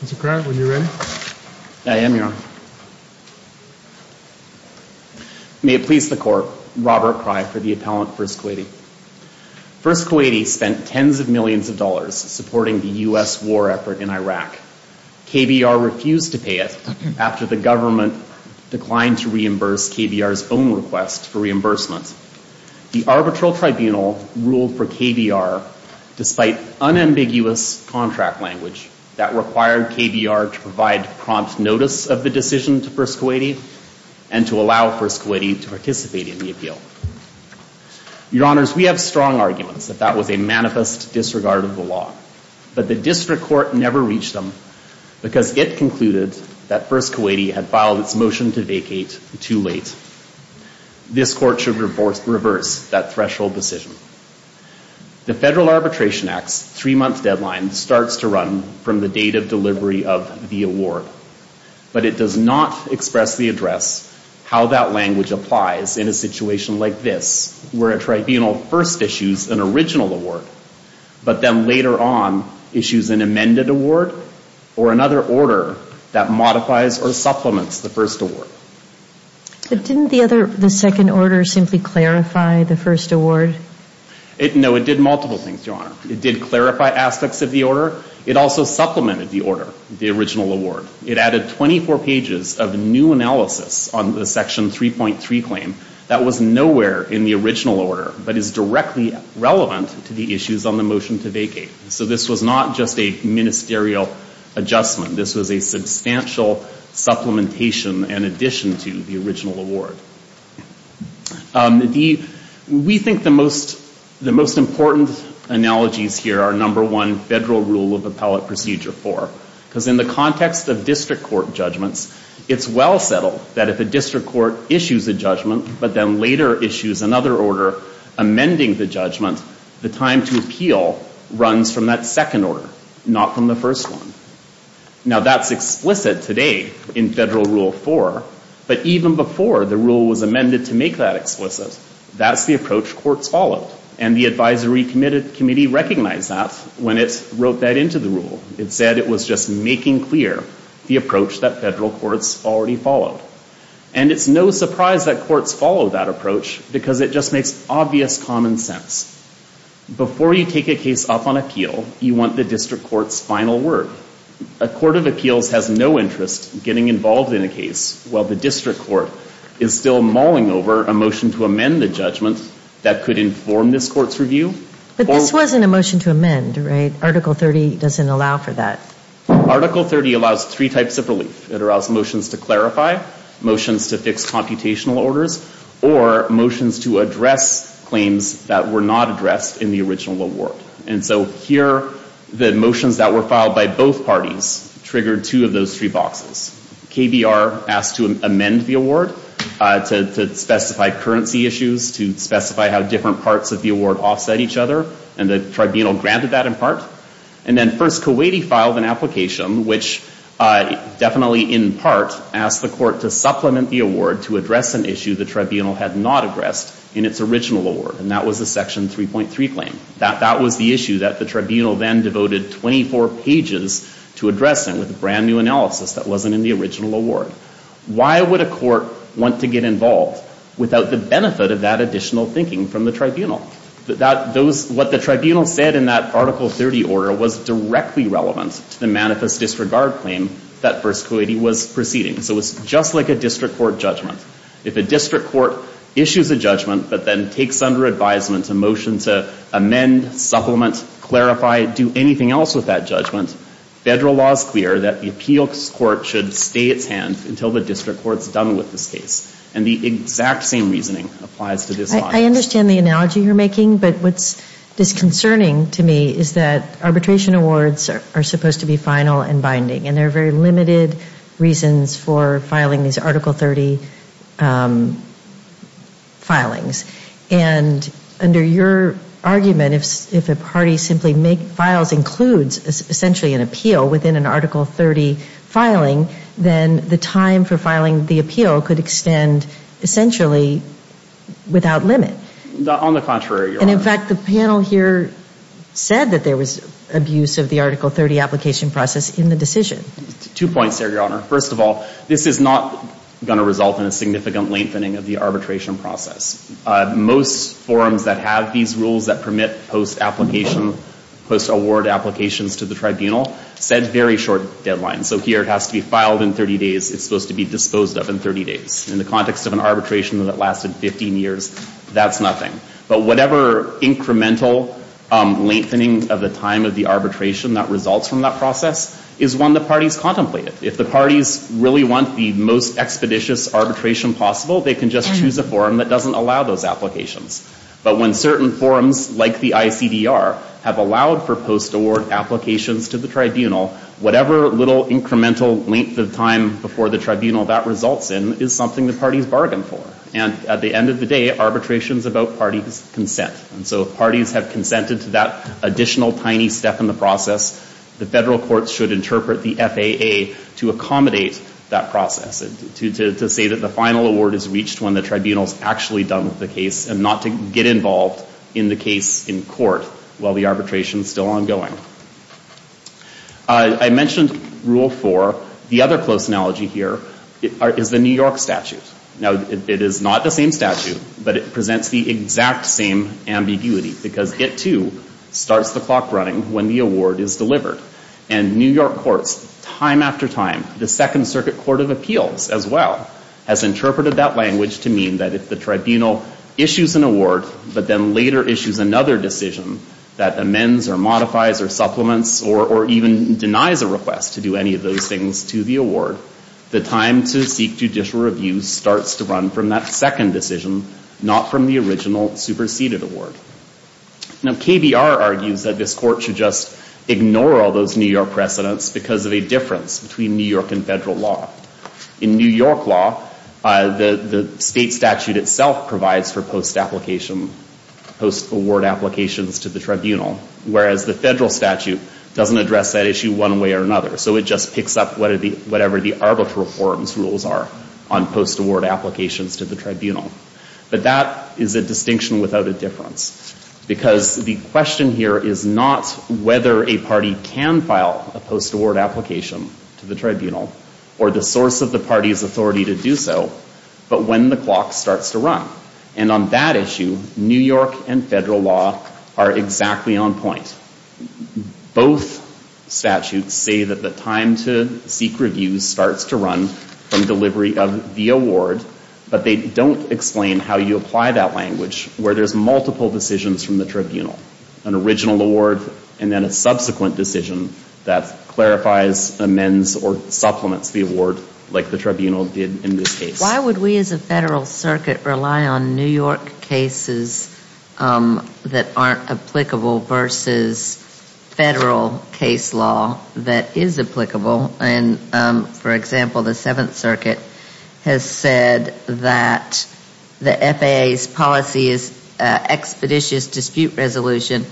Mr. Krier, when you're ready. I am, Your Honor. May it please the Court, Robert Krier for the appellant, First Kuwaiti. First Kuwaiti spent tens of millions of dollars supporting the U.S. war effort in Iraq. KBR refused to pay it after the government declined to reimburse KBR's own request for reimbursement. The arbitral tribunal ruled for KBR, despite unambiguous contract language, that required KBR to provide prompt notice of the decision to First Kuwaiti and to allow First Kuwaiti to participate in the appeal. Your Honors, we have strong arguments that that was a manifest disregard of the law, but the district court never reached them, because it concluded that First Kuwaiti had filed its motion to vacate too late. This court should reverse that threshold decision. The Federal Arbitration Act's three-month deadline starts to run from the date of delivery of the award, but it does not expressly address how that language applies in a situation like this, where a tribunal first issues an original award, but then later on issues an amended award or another order that modifies or supplements the first award. But didn't the second order simply clarify the first award? No, it did multiple things, Your Honor. It did clarify aspects of the order. It also supplemented the order, the original award. It added 24 pages of new analysis on the Section 3.3 claim that was nowhere in the original order, but is directly relevant to the issues on the motion to vacate. So this was not just a ministerial adjustment. This was a substantial supplementation in addition to the original award. We think the most important analogies here are, number one, Federal Rule of Appellate Procedure 4, because in the context of district court judgments, it's well settled that if a district court issues a judgment, but then later issues another order amending the judgment, the time to appeal runs from that second order, not from the first one. Now, that's explicit today in Federal Rule 4, but even before the rule was amended to make that explicit, that's the approach courts followed. And the Advisory Committee recognized that when it wrote that into the rule. It said it was just making clear the approach that federal courts already followed. And it's no surprise that courts follow that approach because it just makes obvious common sense. Before you take a case up on appeal, you want the district court's final word. A court of appeals has no interest in getting involved in a case while the district court is still mauling over a motion to amend the judgment that could inform this court's review. But this wasn't a motion to amend, right? Article 30 doesn't allow for that. Article 30 allows three types of relief. It allows motions to clarify, motions to fix computational orders, or motions to address claims that were not addressed in the original award. And so here, the motions that were filed by both parties triggered two of those three boxes. KBR asked to amend the award to specify currency issues, to specify how different parts of the award offset each other, and the tribunal granted that in part. And then first, Kuwaiti filed an application, which definitely, in part, asked the court to supplement the award to address an issue the tribunal had not addressed in its original award, and that was the Section 3.3 claim. That was the issue that the tribunal then devoted 24 pages to addressing with a brand-new analysis that wasn't in the original award. Why would a court want to get involved without the benefit of that additional thinking from the tribunal? What the tribunal said in that Article 30 order was directly relevant to the manifest disregard claim that First Kuwaiti was proceeding. So it's just like a district court judgment. If a district court issues a judgment but then takes under advisement a motion to amend, supplement, clarify, do anything else with that judgment, federal law is clear that the appeals court should stay its hand until the district court's done with this case. And the exact same reasoning applies to this case. I understand the analogy you're making, but what's disconcerting to me is that arbitration awards are supposed to be final and binding, and there are very limited reasons for filing these Article 30 filings. And under your argument, if a party simply files and includes essentially an appeal within an Article 30 filing, then the time for filing the appeal could extend essentially without limit. On the contrary, Your Honor. And in fact, the panel here said that there was abuse of the Article 30 application process in the decision. Two points there, Your Honor. First of all, this is not going to result in a significant lengthening of the arbitration process. Most forums that have these rules that permit post-application, post-award applications to the tribunal set very short deadlines. So here it has to be filed in 30 days. It's supposed to be disposed of in 30 days. In the context of an arbitration that lasted 15 years, that's nothing. But whatever incremental lengthening of the time of the arbitration that results from that process is one the parties contemplated. If the parties really want the most expeditious arbitration possible, they can just choose a forum that doesn't allow those applications. But when certain forums, like the ICDR, have allowed for post-award applications to the tribunal, whatever little incremental length of time before the tribunal that results in is something the parties bargain for. And at the end of the day, arbitration is about parties' consent. And so if parties have consented to that additional tiny step in the process, the federal courts should interpret the FAA to accommodate that process, to say that the final award is reached when the tribunal is actually done with the case and not to get involved in the case in court while the arbitration is still ongoing. I mentioned Rule 4. The other close analogy here is the New York statute. Now, it is not the same statute, but it presents the exact same ambiguity because it, too, starts the clock running when the award is delivered. And New York courts, time after time, the Second Circuit Court of Appeals, as well, has interpreted that language to mean that if the tribunal issues an award, but then later issues another decision that amends or modifies or supplements or even denies a request to do any of those things to the award, the time to seek judicial review starts to run from that second decision, not from the original, superseded award. Now, KBR argues that this court should just ignore all those New York precedents because of a difference between New York and federal law. In New York law, the state statute itself provides for post-application, post-award applications to the tribunal, whereas the federal statute doesn't address that issue one way or another, so it just picks up whatever the arbitral forum's rules are on post-award applications to the tribunal. But that is a distinction without a difference because the question here is not whether a party can file a post-award application to the tribunal or the source of the party's authority to do so, but when the clock starts to run. And on that issue, New York and federal law are exactly on point. Both statutes say that the time to seek review starts to run from delivery of the award, but they don't explain how you apply that language, where there's multiple decisions from the tribunal, an original award and then a subsequent decision that clarifies, amends, or supplements the award like the tribunal did in this case. Why would we as a federal circuit rely on New York cases that aren't applicable versus federal case law that is applicable? For example, the Seventh Circuit has said that the FAA's policy is expeditious dispute resolution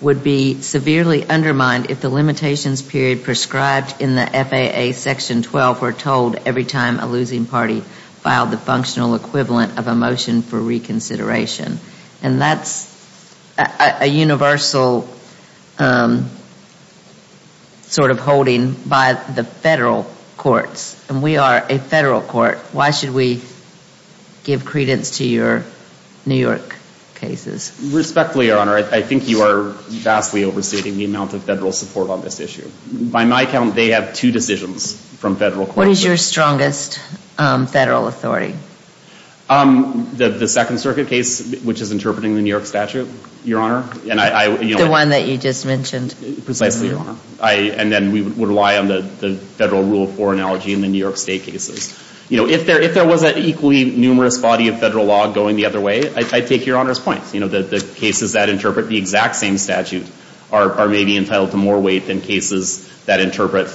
would be severely undermined if the limitations period prescribed in the FAA Section 12 were told every time a losing party filed the functional equivalent of a motion for reconsideration. And that's a universal sort of holding by the federal courts, and we are a federal court. Why should we give credence to your New York cases? Respectfully, Your Honor, I think you are vastly overstating the amount of federal support on this issue. By my count, they have two decisions from federal courts. What is your strongest federal authority? The Second Circuit case, which is interpreting the New York statute, Your Honor. The one that you just mentioned. Precisely, Your Honor. And then we would rely on the federal rule of four analogy in the New York State cases. If there was an equally numerous body of federal law going the other way, I take Your Honor's point. The cases that interpret the exact same statute are maybe entitled to more weight than cases that interpret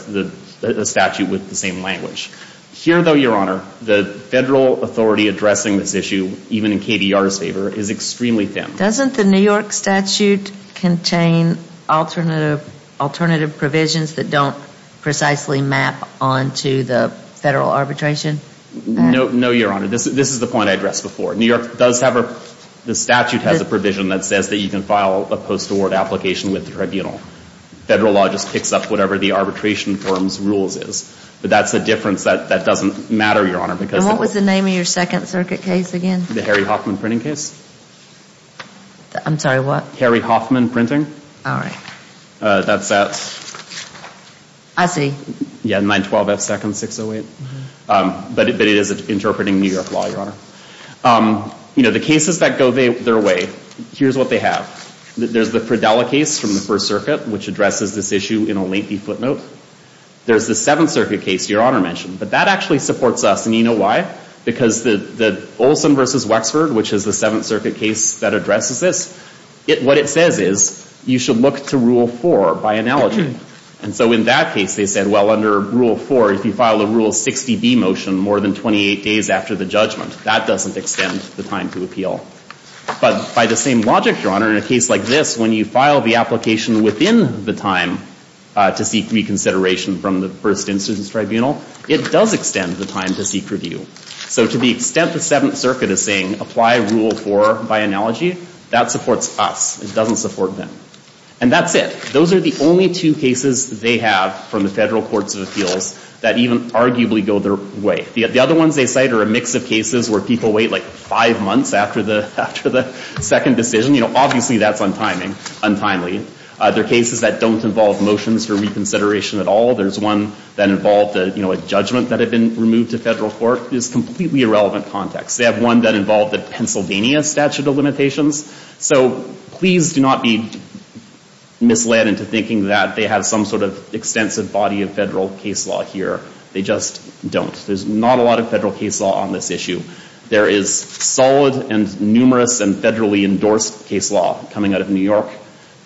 the statute with the same language. Here, though, Your Honor, the federal authority addressing this issue, even in KDR's favor, is extremely thin. Doesn't the New York statute contain alternative provisions that don't precisely map onto the federal arbitration? No, Your Honor. This is the point I addressed before. New York does have a – the statute has a provision that says that you can file a post-award application with the tribunal. Federal law just picks up whatever the arbitration firm's rules is. But that's the difference. That doesn't matter, Your Honor, because – And what was the name of your Second Circuit case again? The Harry Hoffman printing case. I'm sorry, what? Harry Hoffman printing. All right. That's at – I see. Yeah, 912F2nd608. But it is interpreting New York law, Your Honor. You know, the cases that go their way, here's what they have. There's the Fridella case from the First Circuit, which addresses this issue in a lengthy footnote. There's the Seventh Circuit case Your Honor mentioned. But that actually supports us, and you know why? Because the Olson v. Wexford, which is the Seventh Circuit case that addresses this, what it says is you should look to Rule 4 by analogy. And so in that case, they said, well, under Rule 4, if you file a Rule 60B motion more than 28 days after the judgment, that doesn't extend the time to appeal. But by the same logic, Your Honor, in a case like this, when you file the application within the time to seek reconsideration from the First Instance Tribunal, it does extend the time to seek review. So to the extent the Seventh Circuit is saying apply Rule 4 by analogy, that supports us. It doesn't support them. And that's it. Those are the only two cases they have from the federal courts of appeals that even arguably go their way. The other ones they cite are a mix of cases where people wait like five months after the second decision. You know, obviously that's untimely. There are cases that don't involve motions for reconsideration at all. There's one that involved a judgment that had been removed to federal court. It's completely irrelevant context. They have one that involved the Pennsylvania statute of limitations. So please do not be misled into thinking that they have some sort of extensive body of federal case law here. They just don't. There's not a lot of federal case law on this issue. There is solid and numerous and federally endorsed case law coming out of New York.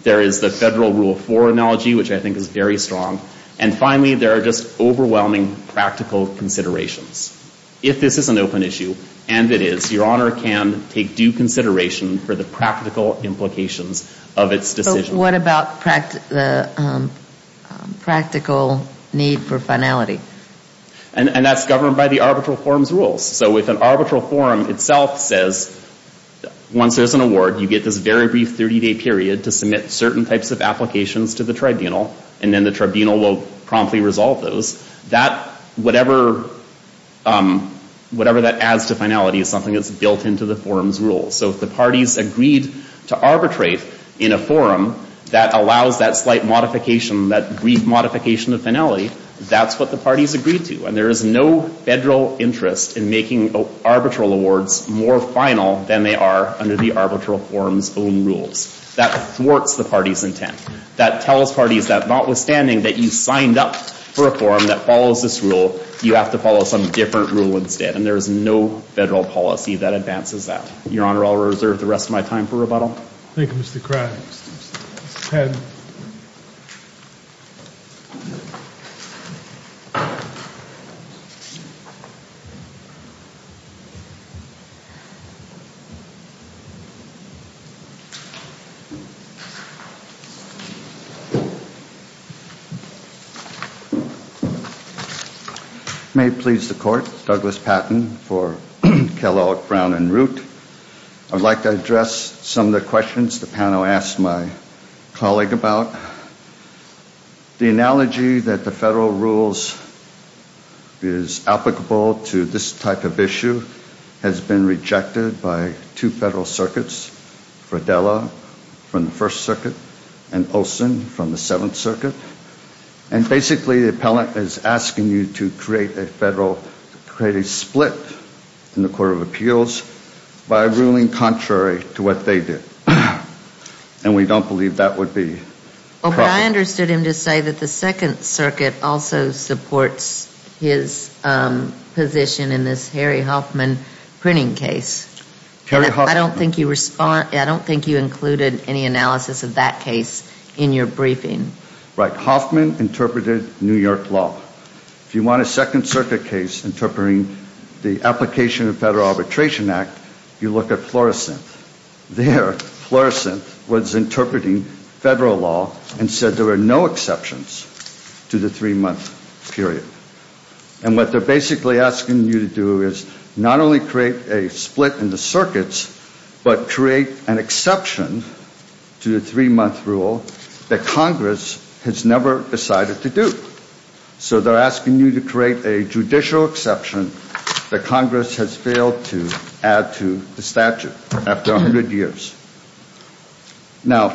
There is the federal Rule 4 analogy, which I think is very strong. And finally, there are just overwhelming practical considerations. If this is an open issue, and it is, Your Honor can take due consideration for the practical implications of its decision. So what about the practical need for finality? And that's governed by the arbitral forum's rules. So if an arbitral forum itself says, once there's an award, you get this very brief 30-day period to submit certain types of applications to the tribunal, and then the tribunal will promptly resolve those, whatever that adds to finality is something that's built into the forum's rules. So if the parties agreed to arbitrate in a forum that allows that slight modification, that brief modification of finality, that's what the parties agreed to. And there is no federal interest in making arbitral awards more final than they are under the arbitral forum's own rules. That thwarts the party's intent. That tells parties that notwithstanding that you signed up for a forum that follows this rule, you have to follow some different rule instead. And there is no federal policy that advances that. Your Honor, I'll reserve the rest of my time for rebuttal. Thank you, Mr. Craig. May it please the Court, Douglas Patton for Kellogg, Brown, and Root. I'd like to address some of the questions the panel asked my colleague about. The analogy that the federal rules is applicable to this type of issue has been rejected by two federal circuits, Fradella from the First Circuit and Olson from the Seventh Circuit. And basically the appellant is asking you to create a split in the Court of Appeals by ruling contrary to what they did. And we don't believe that would be proper. But I understood him to say that the Second Circuit also supports his position in this Harry Hoffman printing case. I don't think you included any analysis of that case in your briefing. Right. Hoffman interpreted New York law. If you want a Second Circuit case interpreting the application of the Federal Arbitration Act, you look at Florissant. There, Florissant was interpreting federal law and said there were no exceptions to the three-month period. And what they're basically asking you to do is not only create a split in the circuits, but create an exception to the three-month rule that Congress has never decided to do. So they're asking you to create a judicial exception that Congress has failed to add to the statute after 100 years. Now,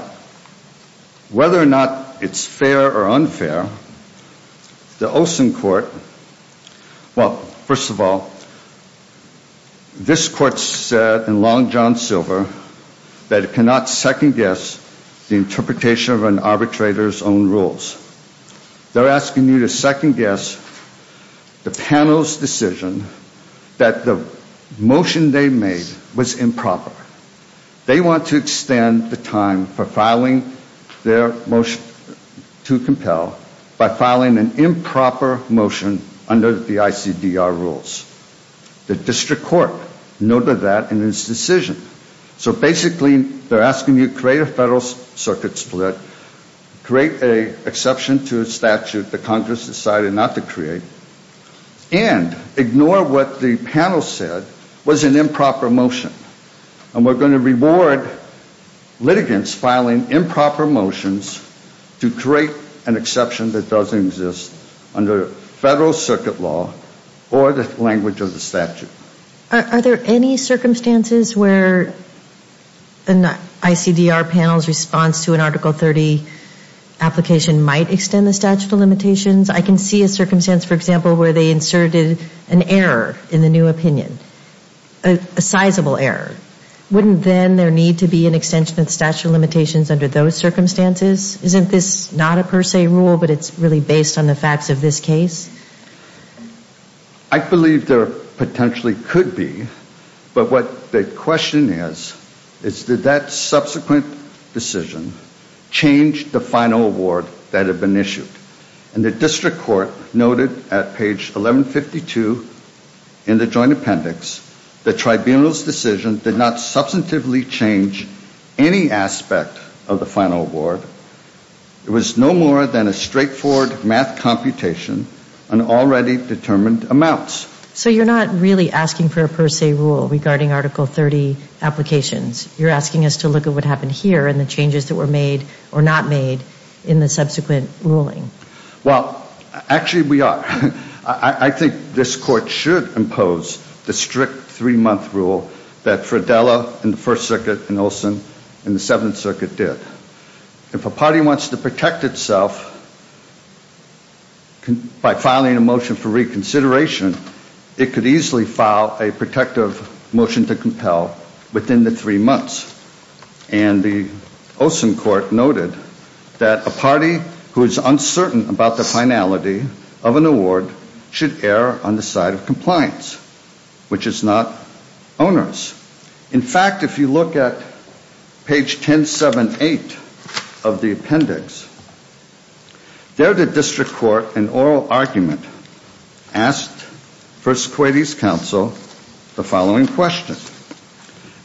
whether or not it's fair or unfair, the Olson court, well, first of all, this court said in Long John Silver that it cannot second-guess the interpretation of an arbitrator's own rules. They're asking you to second-guess the panel's decision that the motion they made was improper. They want to extend the time for filing their motion to compel by filing an improper motion under the ICDR rules. The district court noted that in its decision. So basically, they're asking you to create a federal circuit split, create an exception to a statute that Congress decided not to create, and ignore what the panel said was an improper motion. And we're going to reward litigants filing improper motions to create an exception that doesn't exist under federal circuit law or the language of the statute. Are there any circumstances where an ICDR panel's response to an Article 30 application might extend the statute of limitations? I can see a circumstance, for example, where they inserted an error in the new opinion, a sizable error. Wouldn't then there need to be an extension of the statute of limitations under those circumstances? Isn't this not a per se rule, but it's really based on the facts of this case? I believe there potentially could be, but what the question is, is did that subsequent decision change the final award that had been issued? And the district court noted at page 1152 in the joint appendix that tribunal's decision did not substantively change any aspect of the final award. It was no more than a straightforward math computation on already determined amounts. So you're not really asking for a per se rule regarding Article 30 applications. You're asking us to look at what happened here and the changes that were made or not made in the subsequent ruling. Well, actually we are. I think this court should impose the strict three-month rule that Fradella in the First Circuit and Olsen in the Seventh Circuit did. If a party wants to protect itself by filing a motion for reconsideration, it could easily file a protective motion to compel within the three months. And the Olsen court noted that a party who is uncertain about the finality of an award should err on the side of compliance, which is not onerous. In fact, if you look at page 1078 of the appendix, there the district court in oral argument asked First Kuwaiti's counsel the following question.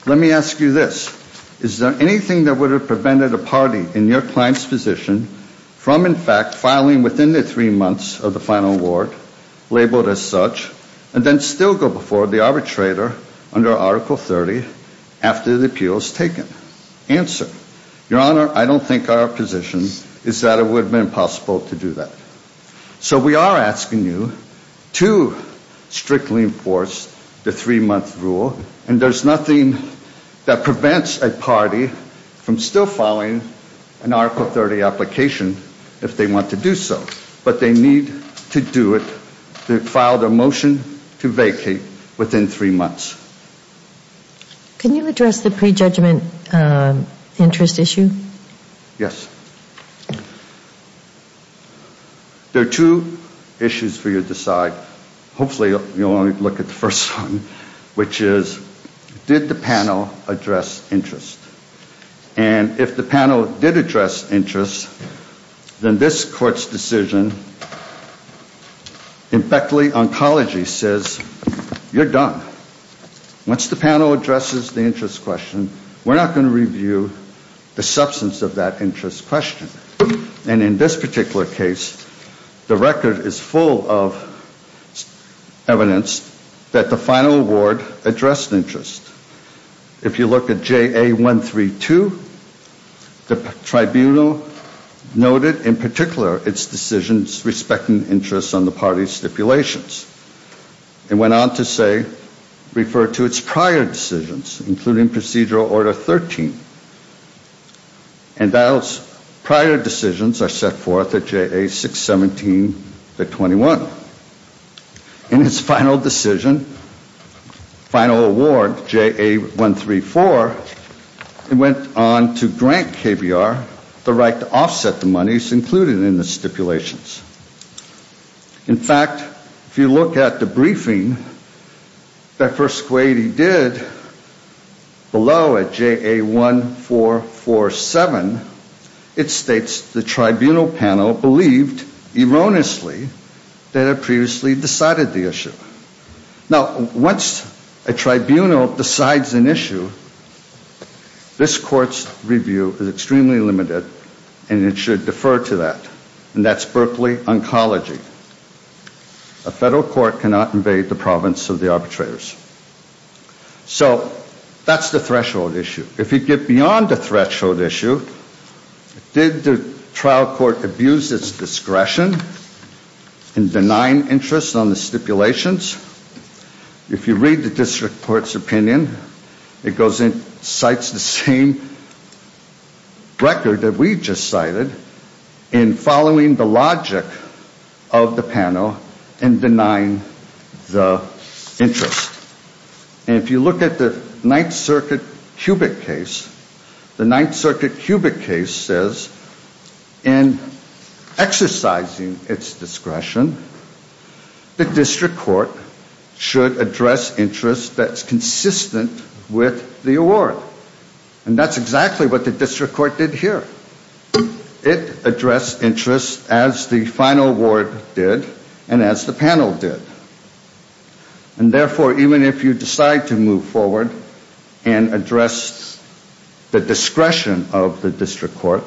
Let me ask you this. Is there anything that would have prevented a party in your client's position from in fact filing within the three months of the final award labeled as such and then still go before the arbitrator under Article 30 after the appeal is taken? Answer. Your Honor, I don't think our position is that it would have been possible to do that. So we are asking you to strictly enforce the three-month rule, and there's nothing that prevents a party from still filing an Article 30 application if they want to do so. But they need to do it to file their motion to vacate within three months. Can you address the prejudgment interest issue? Yes. There are two issues for you to decide. Hopefully you'll only look at the first one, which is did the panel address interest? And if the panel did address interest, then this court's decision, in factly oncology says you're done. Once the panel addresses the interest question, we're not going to review the substance of that interest question. And in this particular case, the record is full of evidence that the final award addressed interest. If you look at JA132, the tribunal noted in particular its decisions respecting interest on the party's stipulations. It went on to say, refer to its prior decisions, including Procedural Order 13. And those prior decisions are set forth at JA617-21. In its final decision, final award, JA134, it went on to grant KBR the right to offset the monies included in the stipulations. In fact, if you look at the briefing that First Quadey did below at JA1447, it states the tribunal panel believed erroneously that it previously decided the issue. Now, once a tribunal decides an issue, this court's review is extremely limited, and it should defer to that. And that's Berkeley Oncology. A federal court cannot invade the province of the arbitrators. So that's the threshold issue. If you get beyond the threshold issue, did the trial court abuse its discretion in denying interest on the stipulations? If you read the district court's opinion, it goes and cites the same record that we just cited in following the logic of the panel in denying the interest. And if you look at the Ninth Circuit Cubic case, the Ninth Circuit Cubic case says in exercising its discretion, the district court should address interest that's consistent with the award. And that's exactly what the district court did here. It addressed interest as the final award did and as the panel did. And therefore, even if you decide to move forward and address the discretion of the district court,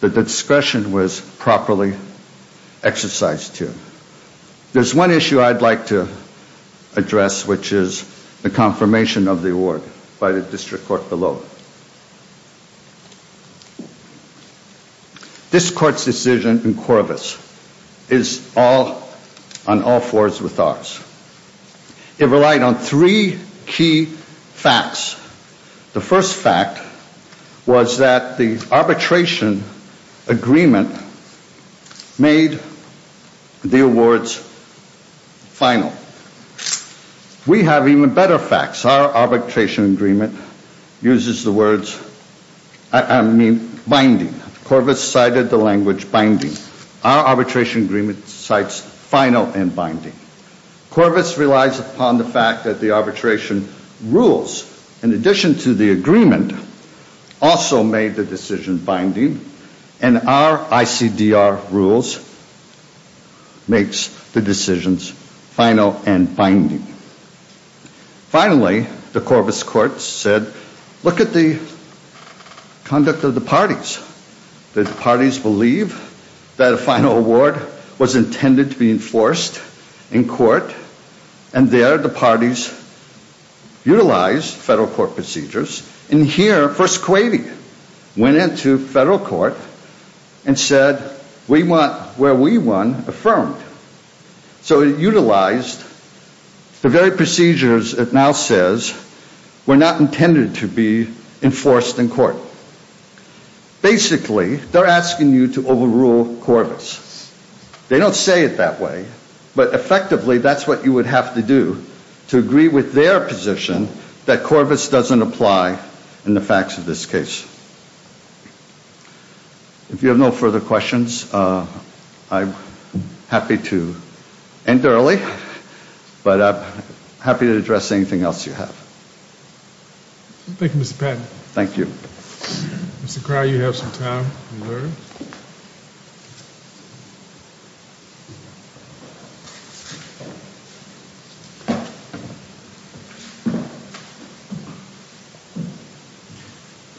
that the discretion was properly exercised here. There's one issue I'd like to address, which is the confirmation of the award by the district court below. This court's decision in Corvus is on all fours with ours. It relied on three key facts. The first fact was that the arbitration agreement made the awards final. We have even better facts. Our arbitration agreement uses the words binding. Corvus cited the language binding. Our arbitration agreement cites final and binding. Corvus relies upon the fact that the arbitration rules, in addition to the agreement, also made the decision binding. And our ICDR rules makes the decisions final and binding. Finally, the Corvus court said, look at the conduct of the parties. Did the parties believe that a final award was intended to be enforced in court? And there, the parties utilized federal court procedures. And here, First Kuwaiti went into federal court and said, we want where we won affirmed. So it utilized the very procedures it now says were not intended to be enforced in court. Basically, they're asking you to overrule Corvus. They don't say it that way, but effectively, that's what you would have to do to agree with their position that Corvus doesn't apply in the facts of this case. If you have no further questions, I'm happy to end early. But I'm happy to address anything else you have. Thank you, Mr. Patton. Thank you. Mr. Crow, you have some time.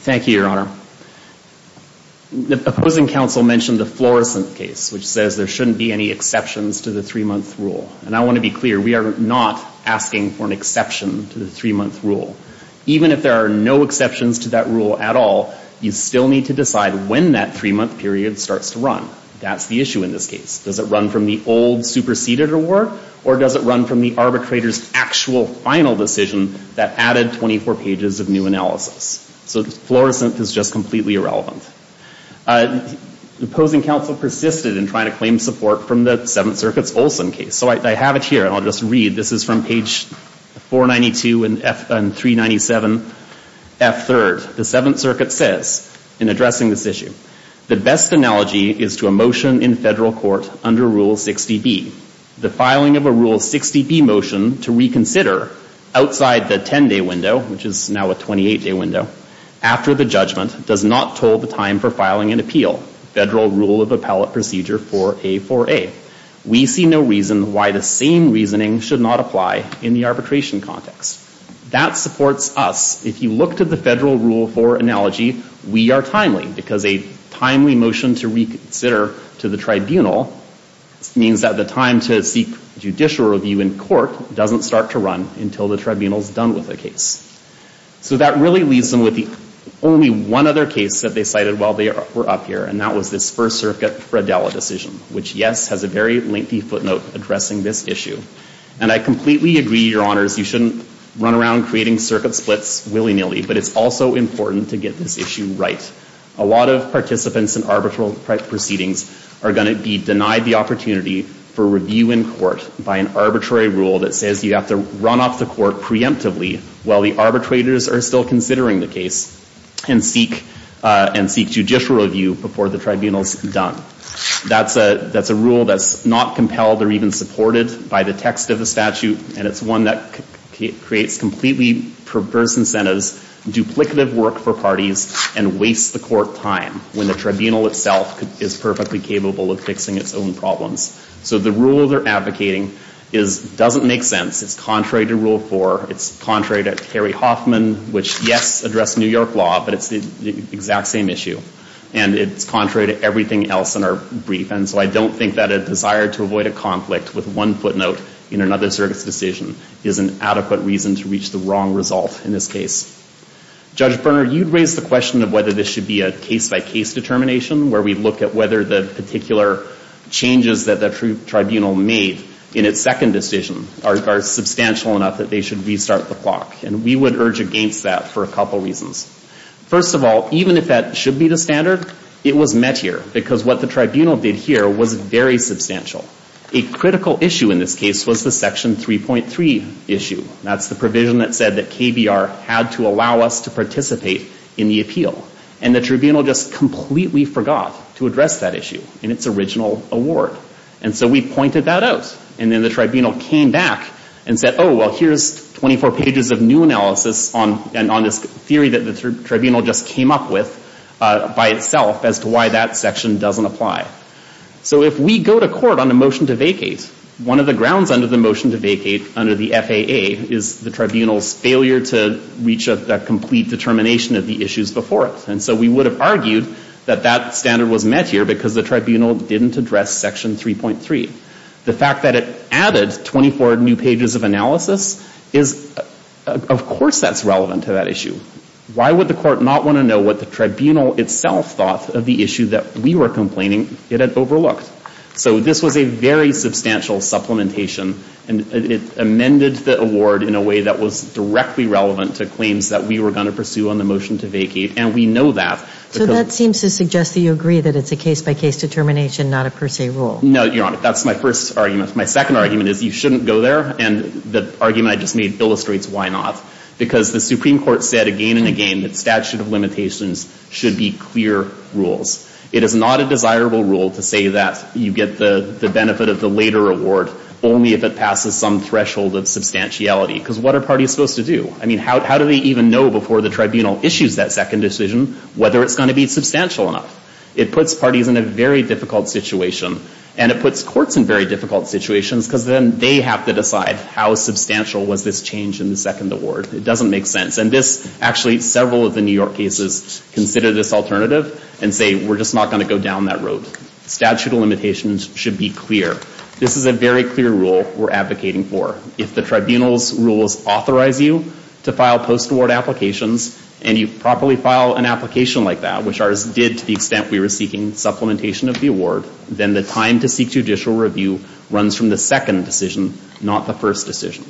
Thank you, Your Honor. The opposing counsel mentioned the Florissant case, which says there shouldn't be any exceptions to the three-month rule. And I want to be clear, we are not asking for an exception to the three-month rule. Even if there are no exceptions to that rule at all, you still need to decide when that three-month period starts to run. That's the issue in this case. Does it run from the old superseded award, or does it run from the arbitrator's actual final decision that added 24 pages of new analysis? So Florissant is just completely irrelevant. The opposing counsel persisted in trying to claim support from the Seventh Circuit's Olson case. So I have it here, and I'll just read. This is from page 492 and 397, F3rd. The Seventh Circuit says in addressing this issue, The best analogy is to a motion in federal court under Rule 60B. The filing of a Rule 60B motion to reconsider outside the 10-day window, which is now a 28-day window, after the judgment does not toll the time for filing an appeal, Federal Rule of Appellate Procedure 4A4A. We see no reason why the same reasoning should not apply in the arbitration context. That supports us. If you look to the Federal Rule 4 analogy, we are timely, because a timely motion to reconsider to the tribunal means that the time to seek judicial review in court doesn't start to run until the tribunal's done with the case. So that really leaves them with only one other case that they cited while they were up here, and that was this First Circuit Fred Dalla decision, which, yes, has a very lengthy footnote addressing this issue. And I completely agree, Your Honors, you shouldn't run around creating circuit splits willy-nilly, but it's also important to get this issue right. A lot of participants in arbitral proceedings are going to be denied the opportunity for review in court by an arbitrary rule that says you have to run off the court preemptively while the arbitrators are still considering the case and seek judicial review before the tribunal's done. That's a rule that's not compelled or even supported by the text of the statute, and it's one that creates completely perverse incentives, duplicative work for parties, and wastes the court time when the tribunal itself is perfectly capable of fixing its own problems. So the rule they're advocating doesn't make sense. It's contrary to Rule 4. It's contrary to Terry Hoffman, which, yes, addressed New York law, but it's the exact same issue. And it's contrary to everything else in our brief, and so I don't think that a desire to avoid a conflict with one footnote in another circuit's decision is an adequate reason to reach the wrong result in this case. Judge Berner, you raised the question of whether this should be a case-by-case determination where we look at whether the particular changes that the tribunal made in its second decision are substantial enough that they should restart the clock, and we would urge against that for a couple reasons. First of all, even if that should be the standard, it was met here, because what the tribunal did here was very substantial. A critical issue in this case was the Section 3.3 issue. That's the provision that said that KBR had to allow us to participate in the appeal, and the tribunal just completely forgot to address that issue in its original award. And so we pointed that out, and then the tribunal came back and said, oh, well, here's 24 pages of new analysis on this theory that the tribunal just came up with by itself as to why that section doesn't apply. So if we go to court on a motion to vacate, one of the grounds under the motion to vacate, under the FAA, is the tribunal's failure to reach a complete determination of the issues before it. And so we would have argued that that standard was met here because the tribunal didn't address Section 3.3. The fact that it added 24 new pages of analysis is, of course that's relevant to that issue. Why would the court not want to know what the tribunal itself thought of the issue that we were complaining it had overlooked? So this was a very substantial supplementation, and it amended the award in a way that was directly relevant to claims that we were going to pursue on the motion to vacate, and we know that. So that seems to suggest that you agree that it's a case-by-case determination, not a per se rule. No, Your Honor. That's my first argument. My second argument is you shouldn't go there, and the argument I just made illustrates why not. Because the Supreme Court said again and again that statute of limitations should be clear rules. It is not a desirable rule to say that you get the benefit of the later award only if it passes some threshold of substantiality. Because what are parties supposed to do? I mean, how do they even know before the tribunal issues that second decision whether it's going to be substantial enough? It puts parties in a very difficult situation, and it puts courts in very difficult situations, because then they have to decide how substantial was this change in the second award. It doesn't make sense. And this, actually, several of the New York cases consider this alternative and say we're just not going to go down that road. Statute of limitations should be clear. This is a very clear rule we're advocating for. If the tribunal's rules authorize you to file post-award applications and you properly file an application like that, which ours did to the extent we were seeking supplementation of the award, then the time to seek judicial review runs from the second decision, not the first decision.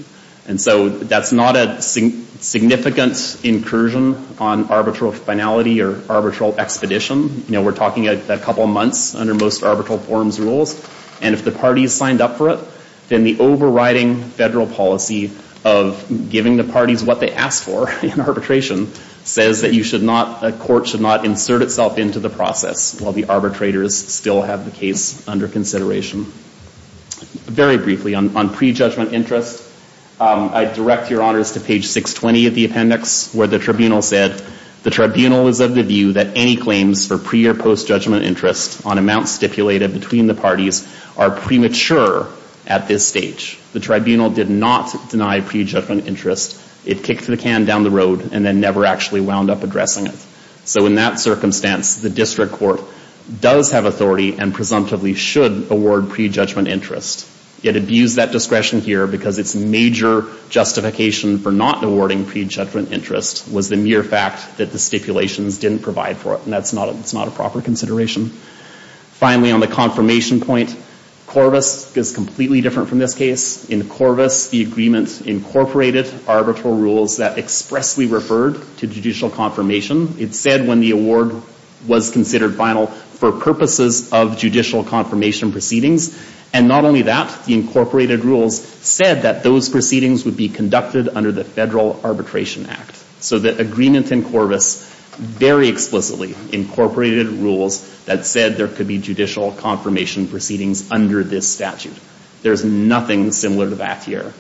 And so that's not a significant incursion on arbitral finality or arbitral expedition. You know, we're talking a couple months under most arbitral forms rules. And if the parties signed up for it, then the overriding federal policy of giving the parties what they asked for in arbitration says that a court should not insert itself into the process while the arbitrators still have the case under consideration. Very briefly, on pre-judgment interest, I direct your honors to page 620 of the appendix where the tribunal said, the tribunal is of the view that any claims for pre- or post-judgment interest on amounts stipulated between the parties are premature at this stage. The tribunal did not deny pre-judgment interest. It kicked the can down the road and then never actually wound up addressing it. So in that circumstance, the district court does have authority and presumptively should award pre-judgment interest. It abused that discretion here because its major justification for not awarding pre-judgment interest was the mere fact that the stipulations didn't provide for it. And that's not a proper consideration. Finally, on the confirmation point, Corvus is completely different from this case. In Corvus, the agreement incorporated arbitral rules that expressly referred to judicial confirmation. It said when the award was considered final for purposes of judicial confirmation proceedings. And not only that, the incorporated rules said that those proceedings would be conducted under the Federal Arbitration Act. So the agreement in Corvus very explicitly incorporated rules that said there could be judicial confirmation proceedings under this statute. There's nothing similar to that here.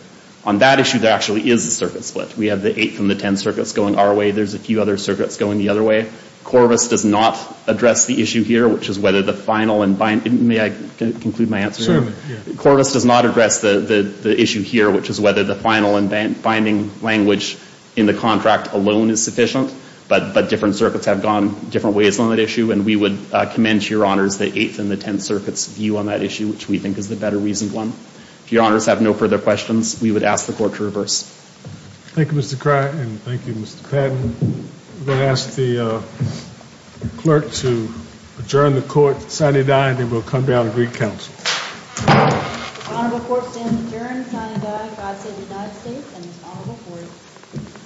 On that issue, there actually is a circuit split. We have the Eighth and the Tenth Circuits going our way. There's a few other circuits going the other way. Corvus does not address the issue here, which is whether the final and binding, may I conclude my answer here? Corvus does not address the issue here, which is whether the final and binding language in the contract alone is sufficient. But different circuits have gone different ways on that issue. And we would commend to your honors the Eighth and the Tenth Circuits' view on that issue, which we think is the better reasoned one. If your honors have no further questions, we would ask the Court to reverse. Thank you, Mr. Criott. And thank you, Mr. Patton. I'm going to ask the clerk to adjourn the Court, sign and die, and then we'll come down and greet counsel. The honorable Court stands adjourned, sign and die. God save the United States and this honorable Court.